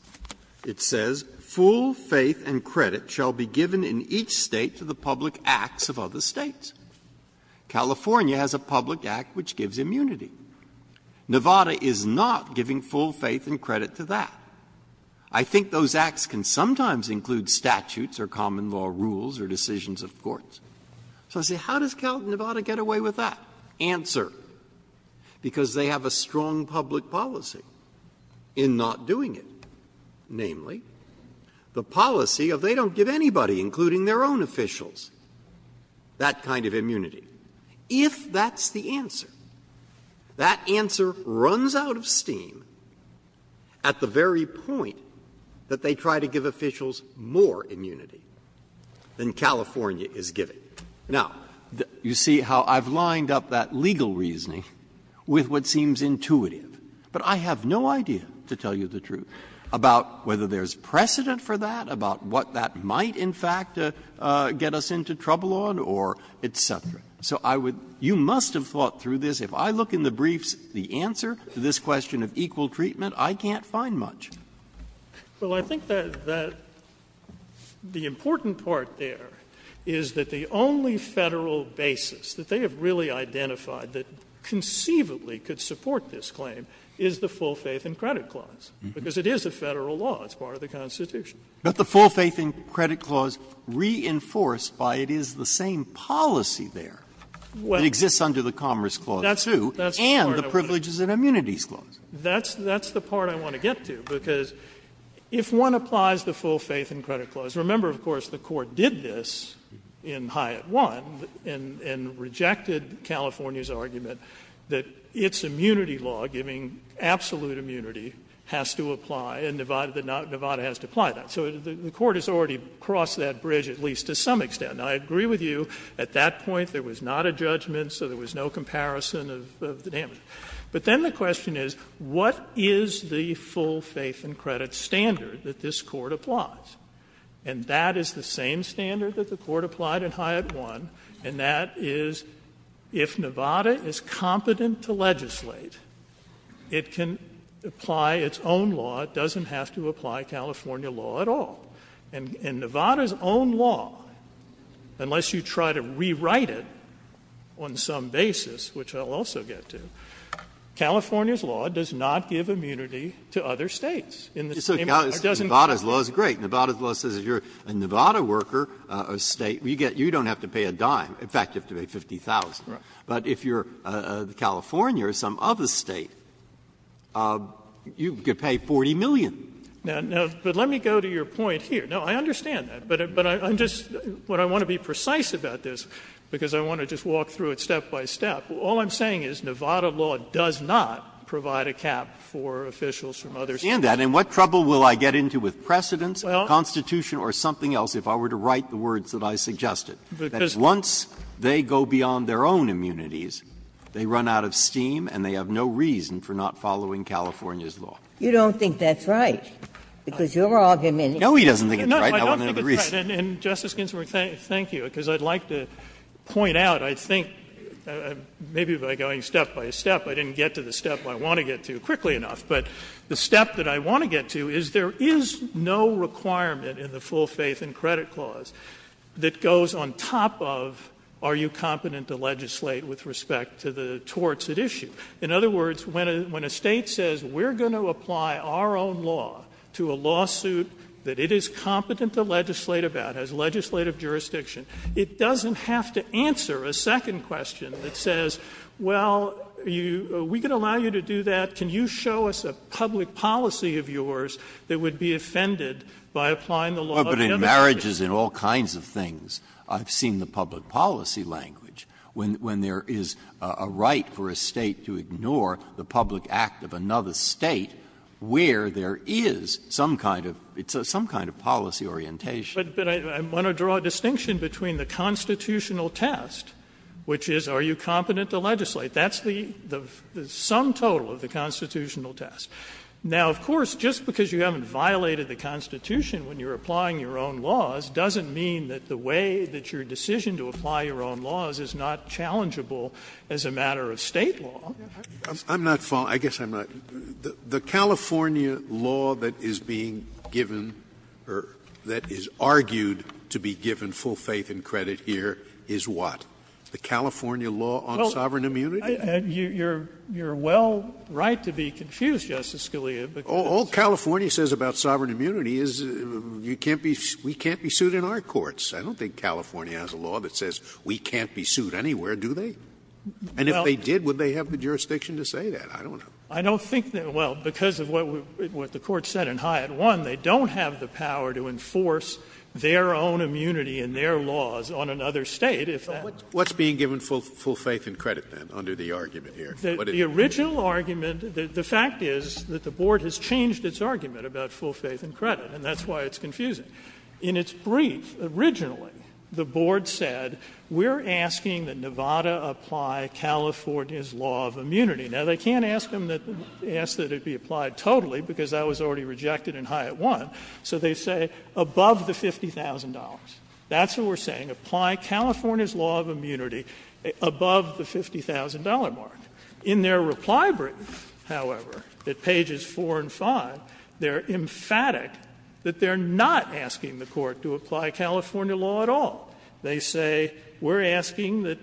It says, Full faith and credit shall be given in each State to the public acts of other States. California has a public act which gives immunity. Nevada is not giving full faith and credit to that. I think those acts can sometimes include statutes or common law rules or decisions of courts. So I say, how does Nevada get away with that? Answer, because they have a strong public policy in not doing it. Namely, the policy of they don't give anybody, including their own officials, that kind of immunity. If that's the answer, that answer runs out of steam at the very point that they try to give officials more immunity than California is giving. Now, you see how I've lined up that legal reasoning with what seems intuitive, but I have no idea, to tell you the truth, about whether there's precedent for that, about what that might, in fact, get us into trouble on or et cetera. So I would — you must have thought through this. If I look in the briefs, the answer to this question of equal treatment, I can't find much. Well, I think that the important part there is that the only Federal basis that they have really identified that conceivably could support this claim is the full faith in credit clause, because it is a Federal law. It's part of the Constitution. But the full faith in credit clause reinforced by it is the same policy there. It exists under the Commerce Clause, too, and the Privileges and Immunities Clause. That's the part I want to get to, because if one applies the full faith in credit clause, remember, of course, the Court did this in Hyatt 1 and rejected California's argument that its immunity law, giving absolute immunity, has to apply, and Nevada has to apply that. So the Court has already crossed that bridge, at least to some extent. Now, I agree with you, at that point there was not a judgment, so there was no comparison of the damage. But then the question is, what is the full faith in credit standard that this Court applies? And that is the same standard that the Court applied in Hyatt 1, and that is, if Nevada is competent to legislate, it can apply its own law, it doesn't have to apply California law at all. And Nevada's own law, unless you try to rewrite it on some basis, which I'll also get to, California's law does not give immunity to other States in the same way it doesn't give immunity. Nevada's law says if you're a Nevada worker, a State, you don't have to pay a dime. In fact, you have to pay $50,000. But if you're California or some other State, you could pay $40 million. Now, but let me go to your point here. No, I understand that, but I'm just going to want to be precise about this, because I want to just walk through it step by step. All I'm saying is Nevada law does not provide a cap for officials from other States. And what trouble will I get into with precedence? Constitution or something else, if I were to write the words that I suggested. Once they go beyond their own immunities, they run out of steam and they have no reason for not following California's law. Ginsburg. You don't think that's right, because you're arguing that it's not. No, he doesn't think it's right. I want another reason. And, Justice Ginsburg, thank you, because I'd like to point out, I think, maybe by going step by step, I didn't get to the step I want to get to quickly enough, but the step that I want to get to is there is no requirement in the full faith and credit clause that goes on top of, are you competent to legislate with respect to the torts at issue? In other words, when a State says, we're going to apply our own law to a lawsuit that it is competent to legislate about, has legislative jurisdiction, it doesn't have to answer a second question that says, well, we can allow you to do that. Can you show us a public policy of yours that would be offended by applying the law of immunity? Breyer, but in marriages and all kinds of things, I've seen the public policy language, when there is a right for a State to ignore the public act of another State where there is some kind of, it's some kind of policy orientation. But I want to draw a distinction between the constitutional test, which is, are you competent to legislate? That's the sum total of the constitutional test. Now, of course, just because you haven't violated the Constitution when you're applying your own laws doesn't mean that the way that your decision to apply your own laws is not challengeable as a matter of State law. Scalia. I'm not following. I guess I'm not. The California law that is being given or that is argued to be given full faith and credit here is what? The California law on sovereign immunity? You're well right to be confused, Justice Scalia. All California says about sovereign immunity is you can't be, we can't be sued in our courts. I don't think California has a law that says we can't be sued anywhere, do they? And if they did, would they have the jurisdiction to say that? I don't know. I don't think that, well, because of what the Court said in Hyatt 1, they don't have the power to enforce their own immunity and their laws on another State if that What's being given full faith and credit, then, under the argument here? The original argument, the fact is that the Board has changed its argument about full faith and credit, and that's why it's confusing. In its brief, originally, the Board said we're asking that Nevada apply California's law of immunity. Now, they can't ask that it be applied totally because that was already rejected in Hyatt 1, so they say above the $50,000. That's what we're saying. Apply California's law of immunity above the $50,000 mark. In their reply brief, however, at pages 4 and 5, they're emphatic that they're not asking the Court to apply California law at all. They say we're asking that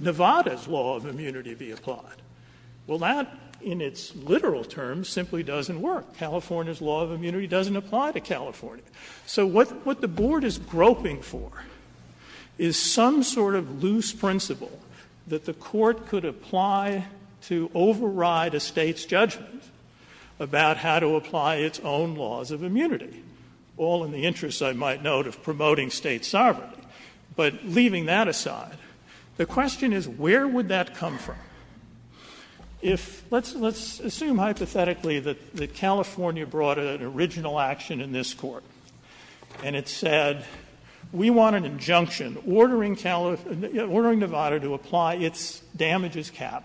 Nevada's law of immunity be applied. Well, that, in its literal terms, simply doesn't work. California's law of immunity doesn't apply to California. So what the Board is groping for is some sort of loose principle that the Court could apply to override a State's judgment about how to apply its own laws of immunity, all in the interest, I might note, of promoting State sovereignty. But leaving that aside, the question is where would that come from? If — let's assume hypothetically that California brought an original action in this Court, and it said we want an injunction ordering Nevada to apply its damages cap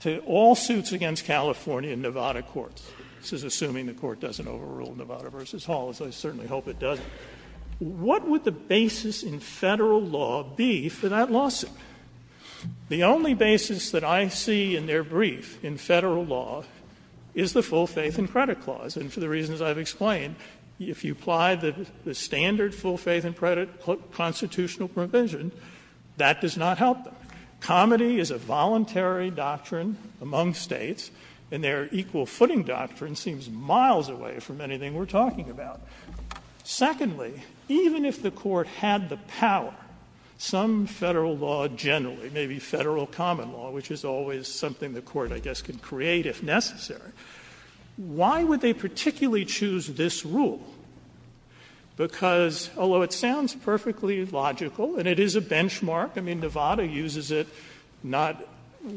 to all suits against California in Nevada courts, this is assuming the Court doesn't overrule Nevada v. Hall, as I certainly hope it doesn't, what would the basis in Federal law be for that lawsuit? The only basis that I see in their brief, in Federal law, is the full faith in credit clause, and for the reasons I've explained, if you apply the standard full faith in credit constitutional provision, that does not help them. Comity is a voluntary doctrine among States, and their equal footing doctrine seems miles away from anything we're talking about. Secondly, even if the Court had the power, some Federal law generally, maybe Federal common law, which is always something the Court, I guess, can create if necessary, why would they particularly choose this rule? Because, although it sounds perfectly logical, and it is a benchmark, I mean, Nevada uses it not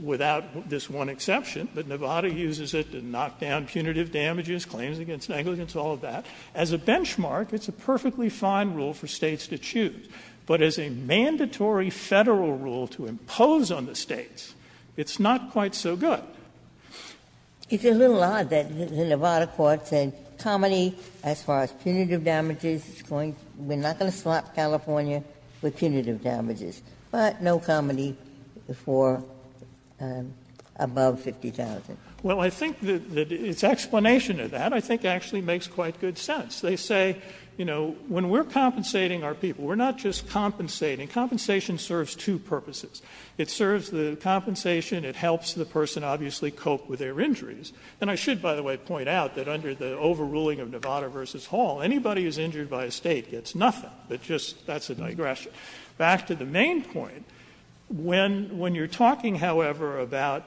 without this one exception, but Nevada uses it to knock down punitive damages, claims against negligence, all of that. As a benchmark, it's a perfectly fine rule for States to choose. But as a mandatory Federal rule to impose on the States, it's not quite so good. Ginsburg. It's a little odd that the Nevada court said, Comity, as far as punitive damages, we're not going to slap California for punitive damages, but no Comity for above 50,000. Well, I think that its explanation of that I think actually makes quite good sense. They say, you know, when we're compensating our people, we're not just compensating. Compensation serves two purposes. It serves the compensation, it helps the person obviously cope with their injuries. And I should, by the way, point out that under the overruling of Nevada v. Hall, anybody who is injured by a State gets nothing, but just that's a digression. Back to the main point, when you're talking, however, about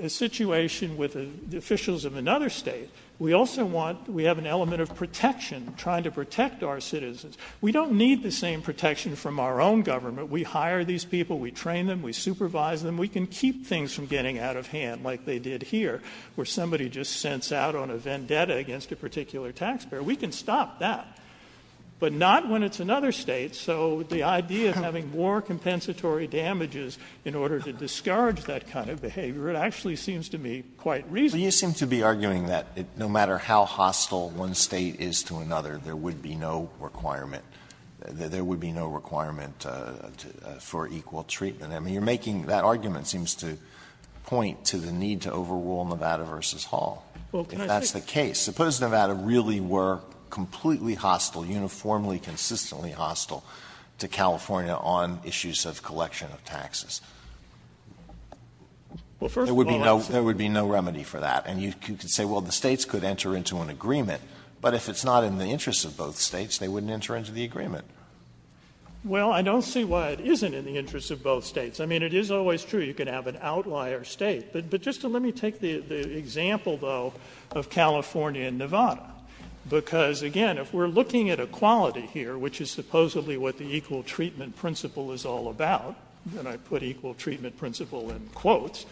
a situation with officials of another State, we also want, we have an element of protection, trying to protect our citizens. We don't need the same protection from our own government. We hire these people, we train them, we supervise them. We can keep things from getting out of hand like they did here, where somebody just sends out on a vendetta against a particular taxpayer. We can stop that, but not when it's another State. So the idea of having more compensatory damages in order to discourage that kind of behavior, it actually seems to me quite reasonable. Alito, you seem to be arguing that no matter how hostile one State is to another, there would be no requirement, there would be no requirement for equal treatment. I mean, you're making, that argument seems to point to the need to overrule Nevada v. Hall, if that's the case. Suppose Nevada really were completely hostile, uniformly, consistently hostile to California on issues of collection of taxes? There would be no remedy for that. And you could say, well, the States could enter into an agreement, but if it's not in the interest of both States, they wouldn't enter into the agreement. Well, I don't see why it isn't in the interest of both States. I mean, it is always true you could have an outlier State. But just let me take the example, though, of California and Nevada, because, again, if we're looking at equality here, which is supposedly what the equal treatment principle is all about, and I put equal treatment principle in quotes,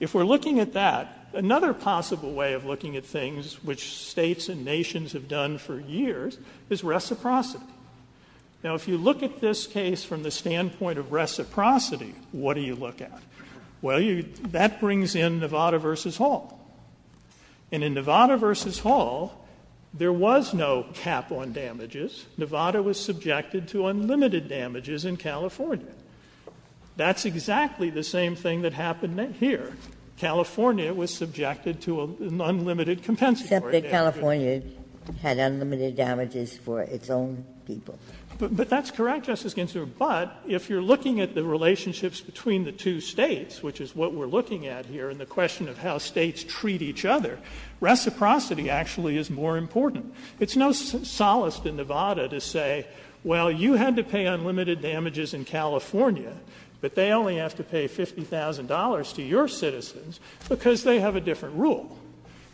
if we're looking at that, another possible way of looking at things which States and nations have done for years is reciprocity. Now, if you look at this case from the standpoint of reciprocity, what do you look at? Well, you, that brings in Nevada v. Hall. And in Nevada v. Hall, there was no cap on damages. Nevada was subjected to unlimited damages in California. That's exactly the same thing that happened here. California was subjected to an unlimited compensatory damage. But you accept that California had unlimited damages for its own people. But that's correct, Justice Ginsburg. But if you're looking at the relationships between the two States, which is what we're looking at here in the question of how States treat each other, reciprocity actually is more important. It's no solace to Nevada to say, well, you had to pay unlimited damages in California, but they only have to pay $50,000 to your citizens because they have a different rule.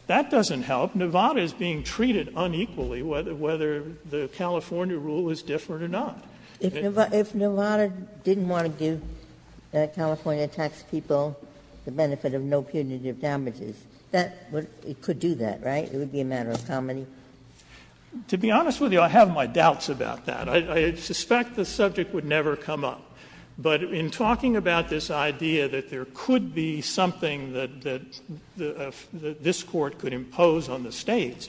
That doesn't help. Nevada is being treated unequally whether the California rule is different or not. If Nevada didn't want to give California tax people the benefit of no punitive damages, that would, it could do that, right? It would be a matter of comedy. To be honest with you, I have my doubts about that. I suspect the subject would never come up. But in talking about this idea that there could be something that this Court could impose on the States,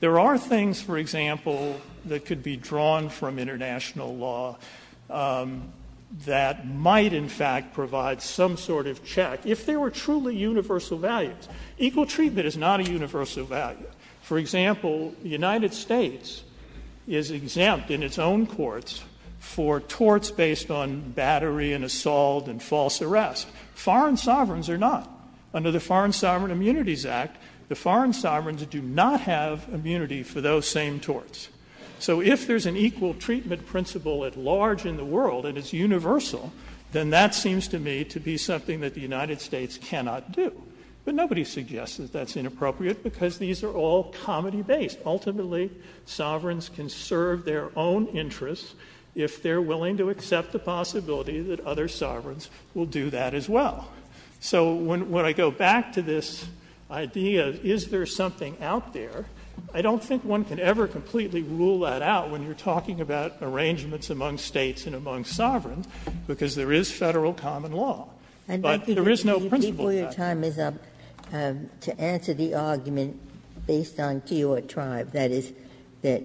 there are things, for example, that could be drawn from international law that might, in fact, provide some sort of check, if they were truly universal values. Equal treatment is not a universal value. For example, the United States is exempt in its own courts for torts based on the battery and assault and false arrest. Foreign sovereigns are not. Under the Foreign Sovereign Immunities Act, the foreign sovereigns do not have immunity for those same torts. So if there's an equal treatment principle at large in the world and it's universal, then that seems to me to be something that the United States cannot do. But nobody suggests that that's inappropriate because these are all comedy-based. Ultimately, sovereigns can serve their own interests if they're willing to accept the possibility that other sovereigns will do that as well. So when I go back to this idea, is there something out there, I don't think one can ever completely rule that out when you're talking about arrangements among States and among sovereigns, because there is Federal common law. But there is no principle. Ginsburg-Gilmour, before your time is up, to answer the argument based on Keogh Tribe, that is, that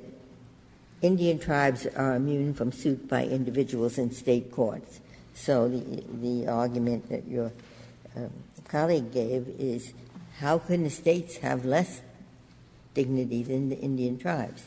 Indian tribes are immune from suit by individuals in State courts. So the argument that your colleague gave is, how can the States have less dignity than the Indian tribes?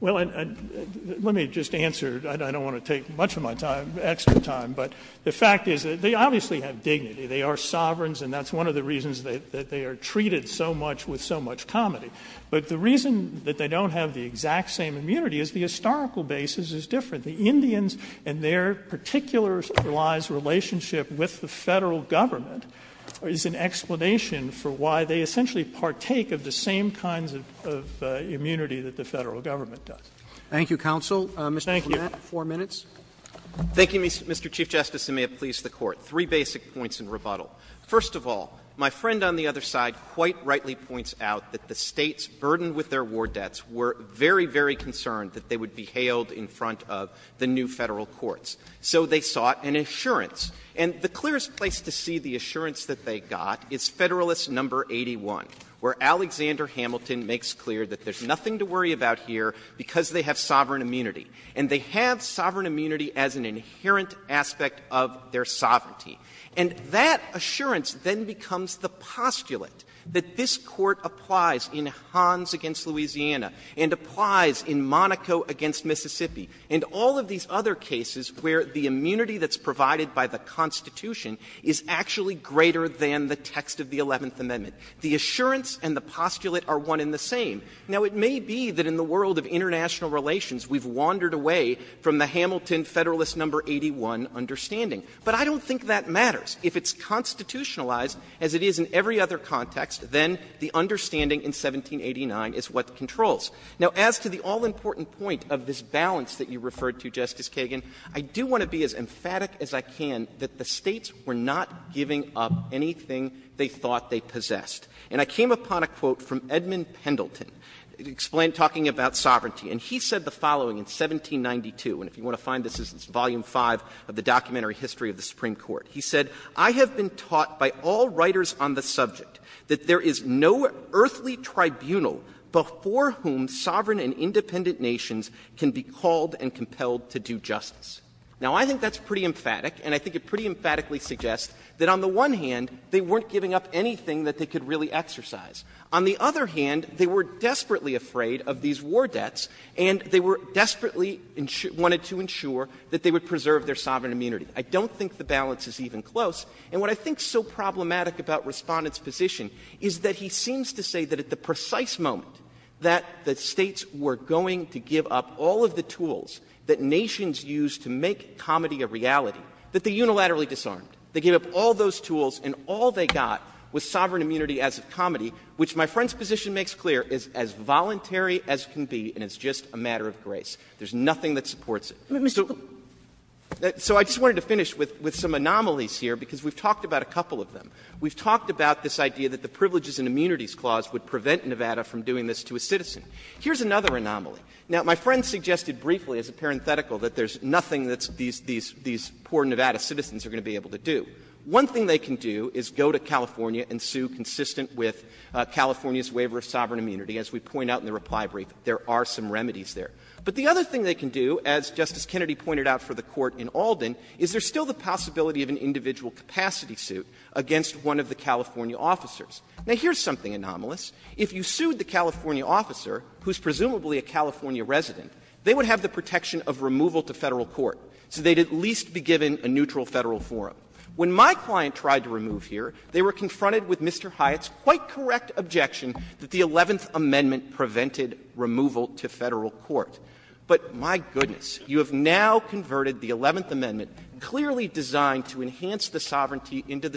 Well, let me just answer. I don't want to take much of my time, extra time, but the fact is that they obviously have dignity. They are sovereigns, and that's one of the reasons that they are treated so much with so much comedy. But the reason that they don't have the exact same immunity is the historical basis is different. The Indians and their particular centralized relationship with the Federal government is an explanation for why they essentially partake of the same kinds of immunity that the Federal government does. Roberts. Thank you, counsel. Mr. Clement. Thank you. Four minutes. Thank you, Mr. Chief Justice, and may it please the Court. Three basic points in rebuttal. First of all, my friend on the other side quite rightly points out that the States' burden with their war debts were very, very concerned that they would be hailed in front of the new Federal courts. So they sought an assurance. And the clearest place to see the assurance that they got is Federalist No. 81, where Alexander Hamilton makes clear that there's nothing to worry about here because they have sovereign immunity. And they have sovereign immunity as an inherent aspect of their sovereignty. And that assurance then becomes the postulate that this Court applies in Hans v. Louisiana and applies in Monaco v. Mississippi and all of these other cases where the immunity that's provided by the Constitution is actually greater than the text of the Eleventh Amendment. The assurance and the postulate are one and the same. Now, it may be that in the world of international relations we've wandered away from the Hamilton Federalist No. 81 understanding. But I don't think that matters. If it's constitutionalized as it is in every other context, then the understanding in 1789 is what controls. Now, as to the all-important point of this balance that you referred to, Justice Kagan, I do want to be as emphatic as I can that the States were not giving up anything they thought they possessed. And I came upon a quote from Edmund Pendleton talking about sovereignty. And he said the following in 1792, and if you want to find this, this is Volume V of the Documentary History of the Supreme Court. He said, I have been taught by all writers on the subject that there is no earthly tribunal before whom sovereign and independent nations can be called and compelled to do justice. Now, I think that's pretty emphatic, and I think it pretty emphatically suggests that on the one hand, they weren't giving up anything that they could really exercise. On the other hand, they were desperately afraid of these war debts, and they were desperately wanted to ensure that they would preserve their sovereign immunity. I don't think the balance is even close. And what I think is so problematic about Respondent's position is that he seems to say that at the precise moment that the States were going to give up all of the tools that nations used to make comedy a reality, that they unilaterally disarmed. They gave up all those tools, and all they got was sovereign immunity as of comedy, which my friend's position makes clear is as voluntary as can be, and it's just a matter of grace. There's nothing that supports it. So I just wanted to finish with some anomalies here, because we've talked about a couple of them. We've talked about this idea that the Privileges and Immunities Clause would prevent Nevada from doing this to a citizen. Here's another anomaly. Now, my friend suggested briefly as a parenthetical that there's nothing that these poor Nevada citizens are going to be able to do. One thing they can do is go to California and sue consistent with California's waiver of sovereign immunity. As we point out in the reply brief, there are some remedies there. But the other thing they can do, as Justice Kennedy pointed out for the Court in Alden, is there's still the possibility of an individual capacity suit against one of the California officers. Now, here's something anomalous. If you sued the California officer, who's presumably a California resident, they would have the protection of removal to Federal court, so they'd at least be given a neutral Federal forum. When my client tried to remove here, they were confronted with Mr. Hyatt's quite correct objection that the Eleventh Amendment prevented removal to Federal court. But my goodness, you have now converted the Eleventh Amendment, clearly designed to enhance the sovereignty of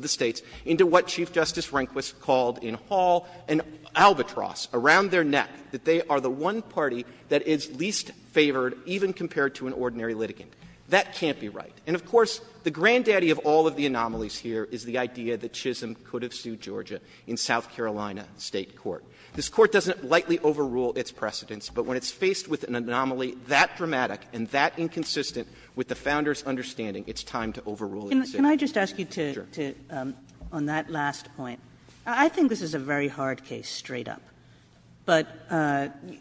the States, into what Chief Justice Rehnquist called an albatross around their neck, that they are the one party that is least favored even compared to an ordinary litigant. That can't be right. And, of course, the granddaddy of all of the anomalies here is the idea that Chisholm could have sued Georgia in South Carolina State court. This Court doesn't lightly overrule its precedents, but when it's faced with an anomaly that dramatic and that inconsistent with the Founders understanding, it's time to overrule it, so. Kagan. Kagan. Kagan. Kagan. Kagan. Kagan. Kagan. Kagan. Kagan. I think this is a very hard case straight up. But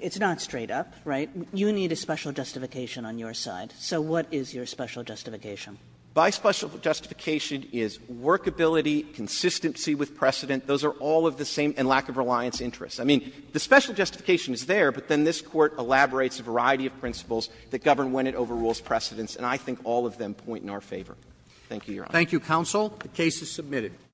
it's not straight up, right? You need a special justification on your side. So what is your special justification? By special justification is workability, consistency with precedent. Those are all of the same and lack of reliance interest. I mean, the special justification is there, but then this Court elaborates a variety of principles that govern when it overrules precedents, and I think all of them point in our favor. Thank you, Your Honor. Thank you, counsel. The case is submitted.